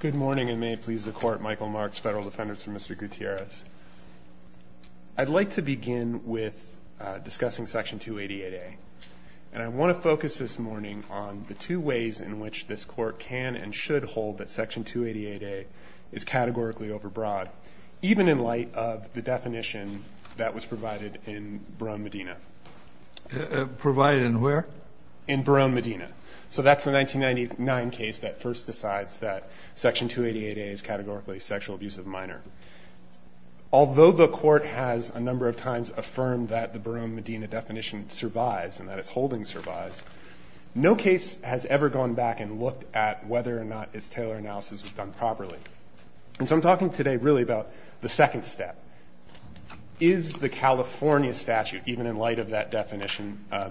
Good morning, and may it please the Court, Michael Marks, Federal Defendant for Mr. Gutierrez. I'd like to begin with discussing Section 288A, and I want to focus this morning on the two ways in which this Court can and should hold that Section 288A is categorically overbroad, even in light of the definition that was provided in Barone-Medina. Provided in where? In Barone-Medina. So that's the 1999 case that first decides that Section 288A is categorically a sexual abuse of a minor. Although the Court has a number of times affirmed that the Barone-Medina definition survives and that its holding survives, no case has ever gone back and looked at whether or not its Taylor analysis was done properly. And so I'm talking today really about the second step. Is the California statute, even in light of that definition, a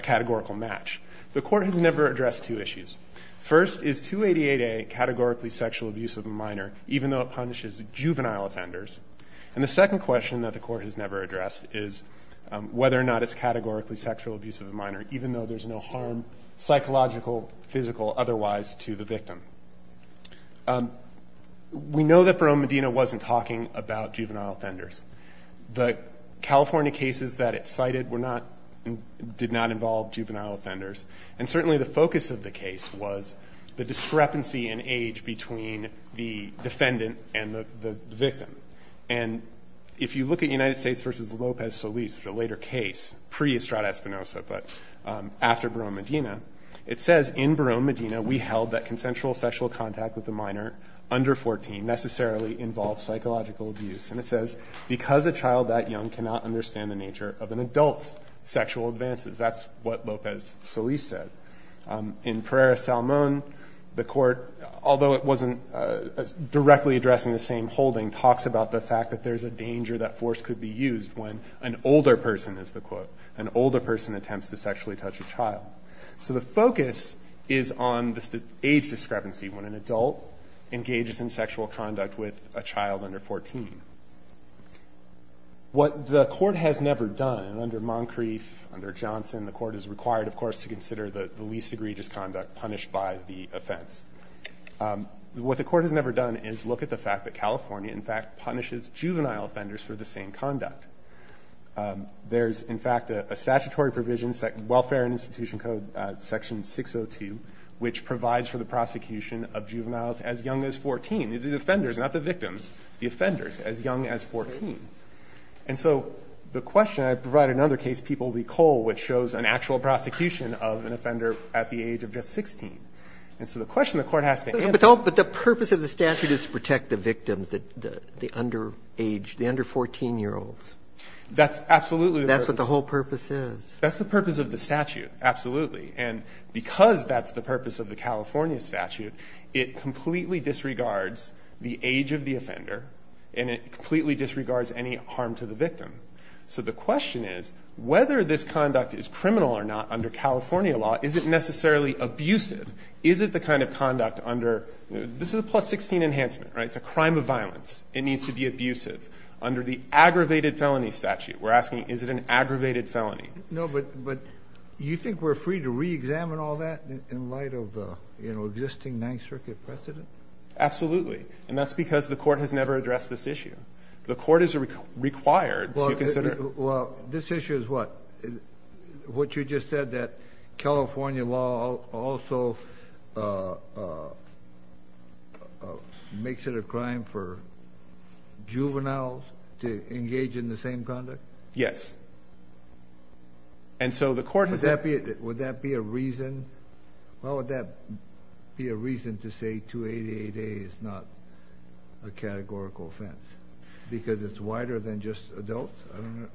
categorical match? The Court has never addressed two issues. First, is 288A categorically sexual abuse of a minor, even though it punishes juvenile offenders? And the second question that the Court has never addressed is whether or not it's categorically sexual abuse of a minor, even though there's no harm psychological, physical, otherwise, to the victim. We know that Barone-Medina wasn't talking about juvenile offenders. The California cases that it cited were not, did not involve juvenile offenders. And certainly the focus of the case was the discrepancy in age between the defendant and the victim. And if you look at United States v. Lopez Solis, which is a later case, pre-Estrada-Espinosa, but after Barone-Medina, it says in Barone-Medina, we held that consensual sexual contact with a minor under 14 necessarily involved psychological abuse. And it says, because a child that young cannot understand the nature of an adult's sexual advances. That's what Lopez Solis said. In Pereira-Salmon, the Court, although it wasn't directly addressing the same holding, talks about the fact that there's a danger that force could be used when an older person, as the quote, an older person attempts to sexually touch a child. So the focus is on the age discrepancy when an adult engages in sexual conduct with a child under 14. What the Court has never done, under Moncrief, under Johnson, the Court is required, of course, to consider the least egregious conduct punished by the offense. What the Court has never done is look at the fact that California, in fact, punishes juvenile offenders for the same conduct. There's, in fact, a statutory provision, Welfare and Institution Code section 602, which provides for the prosecution of juveniles as young as 14. These are the offenders, not the victims. The offenders as young as 14. And so the question, I provide another case, People v. Cole, which shows an actual prosecution of an offender at the age of just 16. And so the question the Court has to answer is. So the purpose of the statute is to protect the victims, the underage, the under-14-year-olds. That's absolutely the purpose. That's what the whole purpose is. That's the purpose of the statute, absolutely. And because that's the purpose of the California statute, it completely disregards the age of the offender and it completely disregards any harm to the victim. So the question is, whether this conduct is criminal or not under California law, is it necessarily abusive? Is it the kind of conduct under, this is a plus-16 enhancement, right? It's a crime of violence. It needs to be abusive. Under the aggravated felony statute, we're asking, is it an aggravated felony? No, but you think we're free to reexamine all that in light of, you know, existing Ninth Circuit precedent? Absolutely. And that's because the Court has never addressed this issue. The Court is required to consider. Well, this issue is what? What you just said, that California law also makes it a crime for juveniles to engage in the same conduct? Yes. And so the Court has never. Would that be a reason? Why would that be a reason to say 288A is not a categorical offense? Because it's wider than just adults?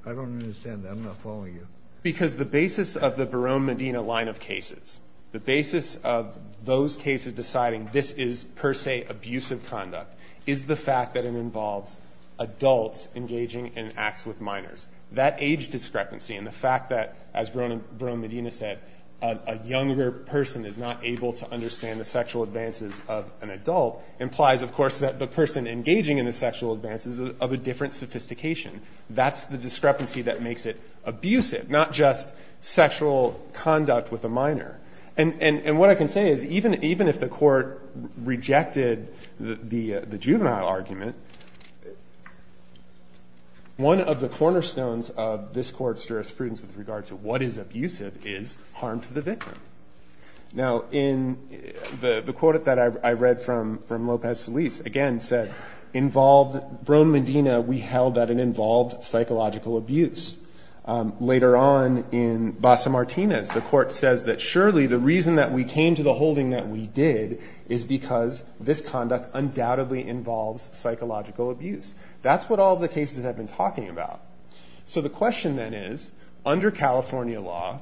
I don't understand that. I'm not following you. Because the basis of the Barone-Medina line of cases, the basis of those cases deciding this is, per se, abusive conduct, is the fact that it involves adults engaging in acts with minors. That age discrepancy and the fact that, as Barone-Medina said, a younger person is not able to understand the sexual advances of an adult implies, of course, that the person engaging in the sexual advances is of a different sophistication. That's the discrepancy that makes it abusive, not just sexual conduct with a minor. And what I can say is, even if the Court rejected the juvenile argument, one of the cornerstones of this Court's jurisprudence with regard to what is abusive is harm to the victim. Now, in the quote that I read from Lopez-Solis, again, said, Barone-Medina, we held that it involved psychological abuse. Later on, in Basa-Martinez, the Court says that surely the reason that we came to the holding that we did is because this conduct undoubtedly involves psychological abuse. That's what all the cases have been talking about. So the question then is, under California law,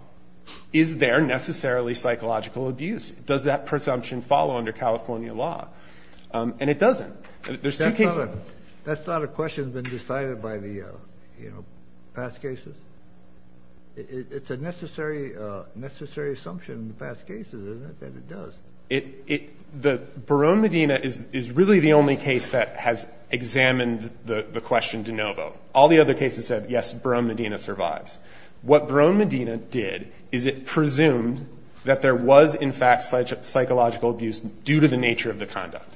is there necessarily psychological abuse? Does that presumption follow under California law? And it doesn't. There's two cases. Kennedy. That's not a question that's been decided by the, you know, past cases. It's a necessary assumption in the past cases, isn't it, that it does? The Barone-Medina is really the only case that has examined the question de novo. All the other cases said, yes, Barone-Medina survives. What Barone-Medina did is it presumed that there was, in fact, psychological abuse due to the nature of the conduct.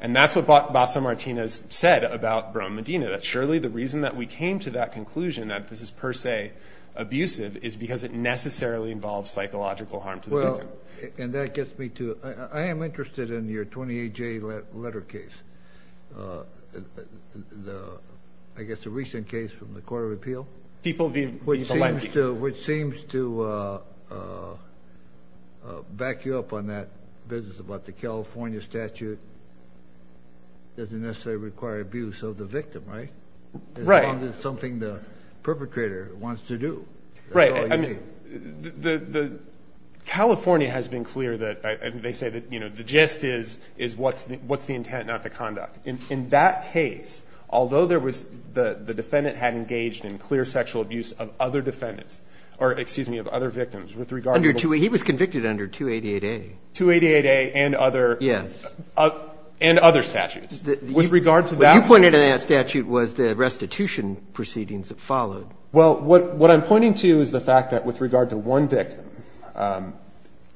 And that's what Basa-Martinez said about Barone-Medina, that surely the reason that we came to that conclusion, that this is per se abusive, is because it necessarily involves psychological harm to the victim. Well, and that gets me to, I am interested in your 28-J letter case. I guess the recent case from the Court of Appeal. People v. Palenzi. Which seems to back you up on that business about the California statute. It doesn't necessarily require abuse of the victim, right? Right. As long as it's something the perpetrator wants to do. Right. That's all you need. I mean, the California has been clear that, and they say that, you know, the gist is what's the intent, not the conduct. In that case, although there was, the defendant had engaged in clear sexual abuse of other defendants, or excuse me, of other victims with regard to the ---- Under 288. He was convicted under 288A. 288A and other ---- Yes. And other statutes. With regard to that ---- What you pointed to in that statute was the restitution proceedings that followed. Well, what I'm pointing to is the fact that with regard to one victim,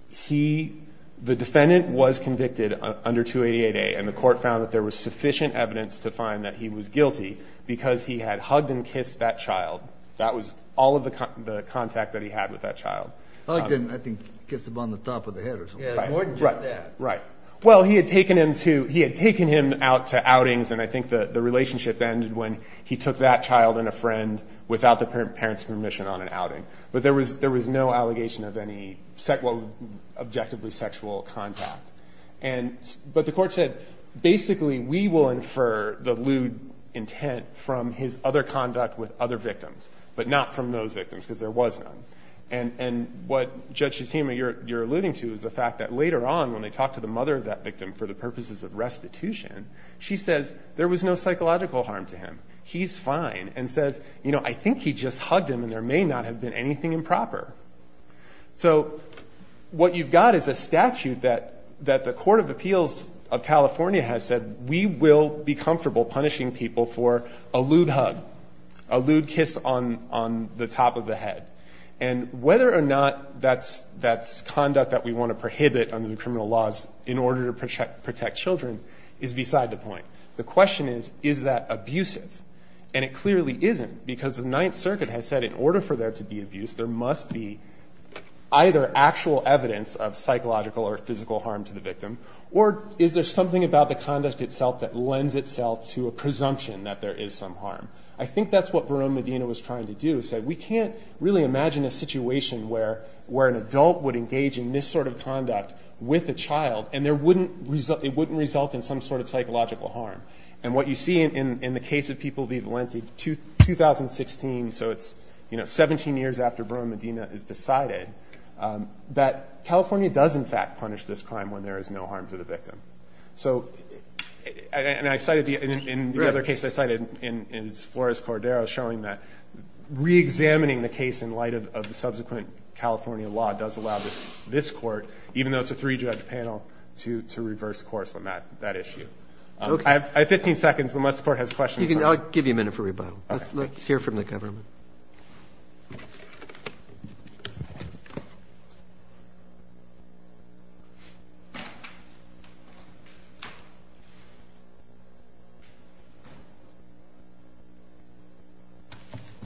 he, the defendant was convicted under 288A, and the Court found that there was sufficient evidence to find that he was guilty because he had hugged and kissed that child. That was all of the contact that he had with that child. Hugged and, I think, kissed him on the top of the head or something. Right. Right. Well, he had taken him to, he had taken him out to outings, and I think the relationship ended when he took that child and a friend without the parent's permission on an outing. But there was no allegation of any, well, objectively sexual contact. And, but the Court said basically we will infer the lewd intent from his other conduct with other victims, but not from those victims, because there was none. And what, Judge Shatema, you're alluding to is the fact that later on when they talked to the mother of that victim for the purposes of restitution, she says there was no psychological harm to him. He's fine. And says, you know, I think he just hugged him and there may not have been anything improper. So what you've got is a statute that the Court of Appeals of California has said we will be comfortable punishing people for a lewd hug, a lewd kiss on the top of the head. And whether or not that's conduct that we want to prohibit under the criminal laws in order to protect children is beside the point. The question is, is that abusive? And it clearly isn't, because the Ninth Circuit has said in order for there to be abuse, there must be either actual evidence of psychological or physical harm to the victim, or is there something about the conduct itself that lends itself to a presumption that there is some harm? I think that's what Bruno Medina was trying to do. He said we can't really imagine a situation where an adult would engage in this sort of conduct with a child, and it wouldn't result in some sort of psychological harm. And what you see in the case of people v. Valenti, 2016, so it's 17 years after Bruno Medina is decided, that California does in fact punish this crime when there is no harm to the victim. So, and I cited in the other case I cited in Flores-Cordero showing that reexamining the case in light of the subsequent California law does allow this Court, even though it's a three-judge panel, to reverse course on that issue. I have 15 seconds unless the Court has questions. I'll give you a minute for rebuttal. Okay. Let's hear from the government.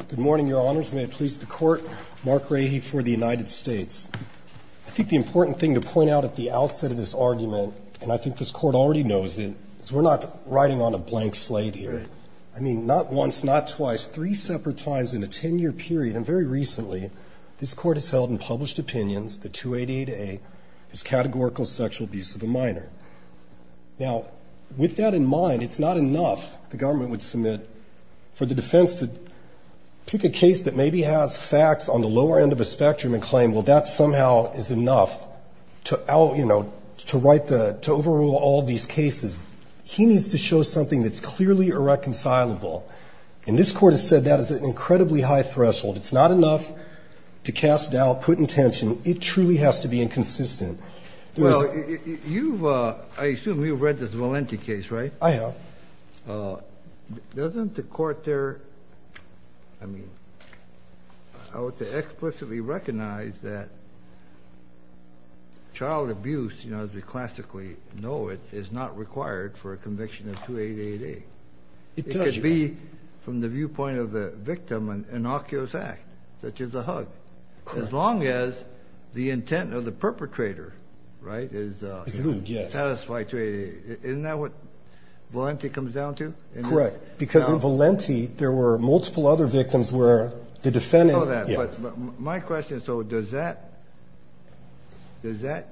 Good morning, Your Honors. May it please the Court. Mark Rady for the United States. I think the important thing to point out at the outset of this argument, and I think this Court already knows it, is we're not riding on a blank slate here. I mean, not once, not twice, three separate times in a ten-year period, and very recently, this Court has held in published opinions that 2888 is categorical sexual abuse of a minor. Now, with that in mind, it's not enough, the government would submit, for the defense to pick a case that maybe has facts on the lower end of the spectrum and claim, well, that somehow is enough to out, you know, to write the, to overrule all these cases. He needs to show something that's clearly irreconcilable. And this Court has said that is at an incredibly high threshold. It's not enough to cast doubt, put in tension. It truly has to be inconsistent. Well, you've, I assume you've read this Valenti case, right? I have. Doesn't the Court there, I mean, I would say explicitly recognize that child abuse, you know, as we classically know it, is not required for a conviction of 2888. It could be, from the viewpoint of the victim, an innocuous act, such as a hug, as long as the intent of the perpetrator, right, is satisfied 2888. Isn't that what Valenti comes down to? Correct. Because in Valenti, there were multiple other victims where the defendant You know that. Yeah. My question, so does that, is that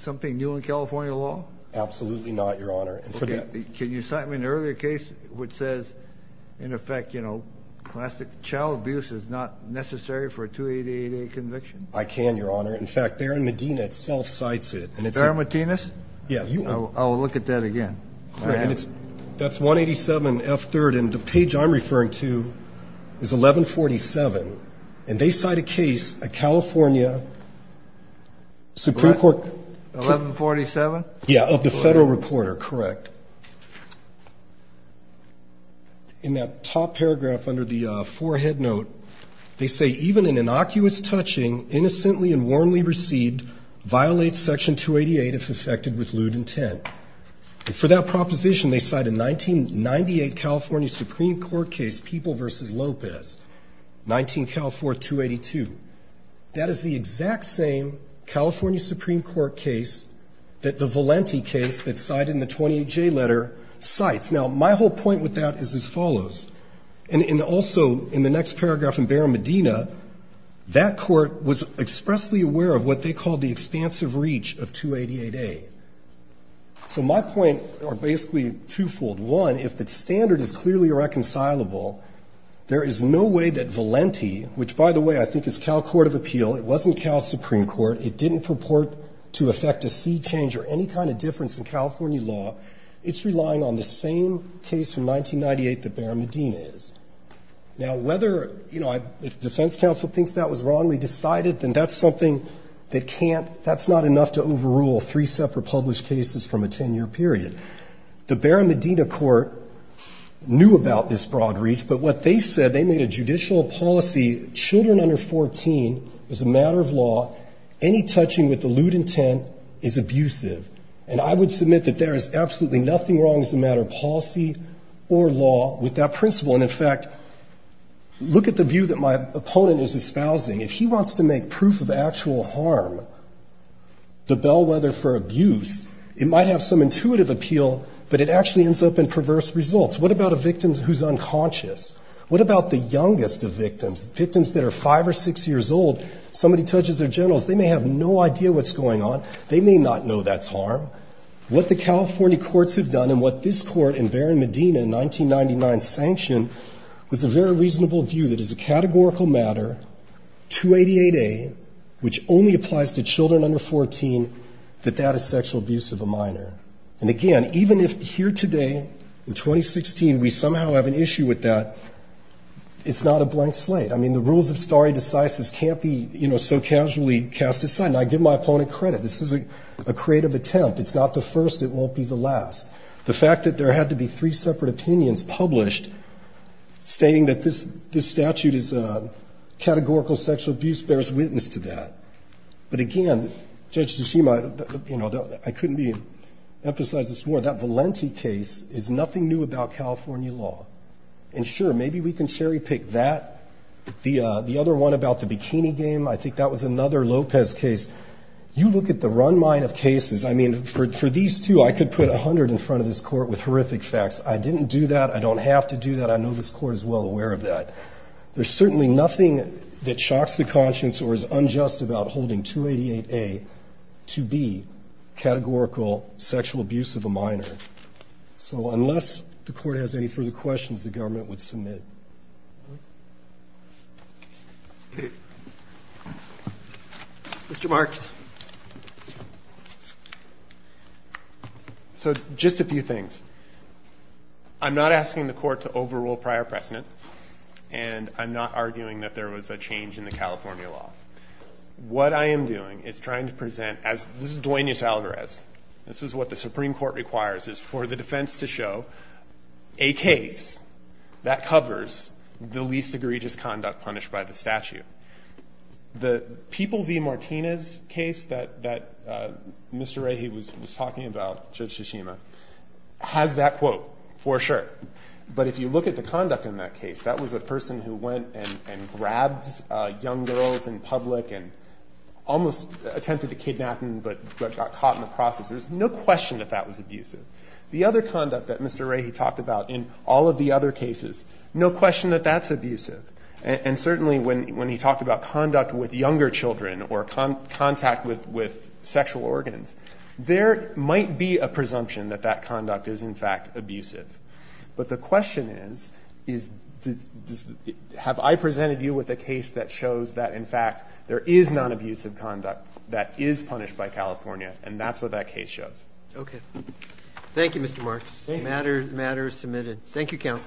something new in California law? Absolutely not, Your Honor. Can you cite me an earlier case which says, in effect, you know, classic child abuse is not necessary for a 2888 conviction? I can, Your Honor. In fact, Barron-Medina itself cites it. Barron-Medina? Yeah. I'll look at that again. That's 187F3rd, and the page I'm referring to is 1147. And they cite a case, a California Supreme Court 1147? Yeah, of the federal reporter, correct. In that top paragraph under the forehead note, they say, Even an innocuous touching, innocently and warmly received, violates Section 288 if effected with lewd intent. And for that proposition, they cite a 1998 California Supreme Court case, People v. Lopez, 19 California 282. That is the exact same California Supreme Court case that the Valenti case that's cited in the 28J letter cites. Now, my whole point with that is as follows. And also, in the next paragraph in Barron-Medina, that court was expressly aware of what they called the expansive reach of 2888. So my point are basically twofold. One, if the standard is clearly irreconcilable, there is no way that Valenti, which, by the way, I think is Cal Court of Appeal, it wasn't Cal Supreme Court, it didn't purport to affect a sea change or any kind of difference in California law, it's relying on the same case from 1998 that Barron-Medina is. Now, whether, you know, if the defense counsel thinks that was wrongly decided, then that's something that can't, that's not enough to overrule three separate published cases from a 10-year period. The Barron-Medina court knew about this broad reach, but what they said, they made a judicial policy, children under 14, as a matter of law, any touching with the lewd intent is abusive. And I would submit that there is absolutely nothing wrong as a matter of policy or law with that principle. And, in fact, look at the view that my opponent is espousing. If he wants to make proof of actual harm the bellwether for abuse, it might have some intuitive appeal, but it actually ends up in perverse results. What about a victim who's unconscious? What about the youngest of victims, victims that are 5 or 6 years old, somebody touches their genitals, they may have no idea what's going on, they may not know that's harm. What the California courts have done and what this court in Barron-Medina in 1999 sanctioned was a very reasonable view that as a categorical matter, 288A, which only applies to children under 14, that that is sexual abuse of a minor. And, again, even if here today in 2016 we somehow have an issue with that, it's not a blank slate. I mean, the rules of stare decisis can't be, you know, so casually cast aside. And I give my opponent credit. This is a creative attempt. It's not the first. It won't be the last. The fact that there had to be three separate opinions published stating that this statute is a categorical sexual abuse bears witness to that. But, again, Judge Tsushima, you know, I couldn't emphasize this more, that Valenti case is nothing new about California law. And, sure, maybe we can cherry pick that. The other one about the bikini game, I think that was another Lopez case. You look at the run mine of cases. I mean, for these two, I could put 100 in front of this Court with horrific facts. I didn't do that. I don't have to do that. I know this Court is well aware of that. There's certainly nothing that shocks the conscience or is unjust about holding 288A to be categorical sexual abuse of a minor. So unless the Court has any further questions, the government would submit. Mr. Marks. So just a few things. I'm not asking the Court to overrule prior precedent, and I'm not arguing that there was a change in the California law. What I am doing is trying to present as this is Duenas-Alvarez. This is what the Supreme Court requires is for the defense to show a case that covers the least egregious conduct punished by the statute. The People v. Martinez case that Mr. Rahe was talking about, Judge Tshishima, has that quote for sure. But if you look at the conduct in that case, that was a person who went and grabbed young girls in public and almost attempted to kidnap them but got caught in the process. There's no question that that was abusive. The other conduct that Mr. Rahe talked about in all of the other cases, no question that that's abusive. And certainly when he talked about conduct with younger children or contact with sexual organs, there might be a presumption that that conduct is, in fact, abusive. But the question is, is have I presented you with a case that shows that, in fact, there is nonabusive conduct that is punished by California, and that's what that case shows. Okay. Thank you, Mr. Marks. Thank you. Thank you, counsel.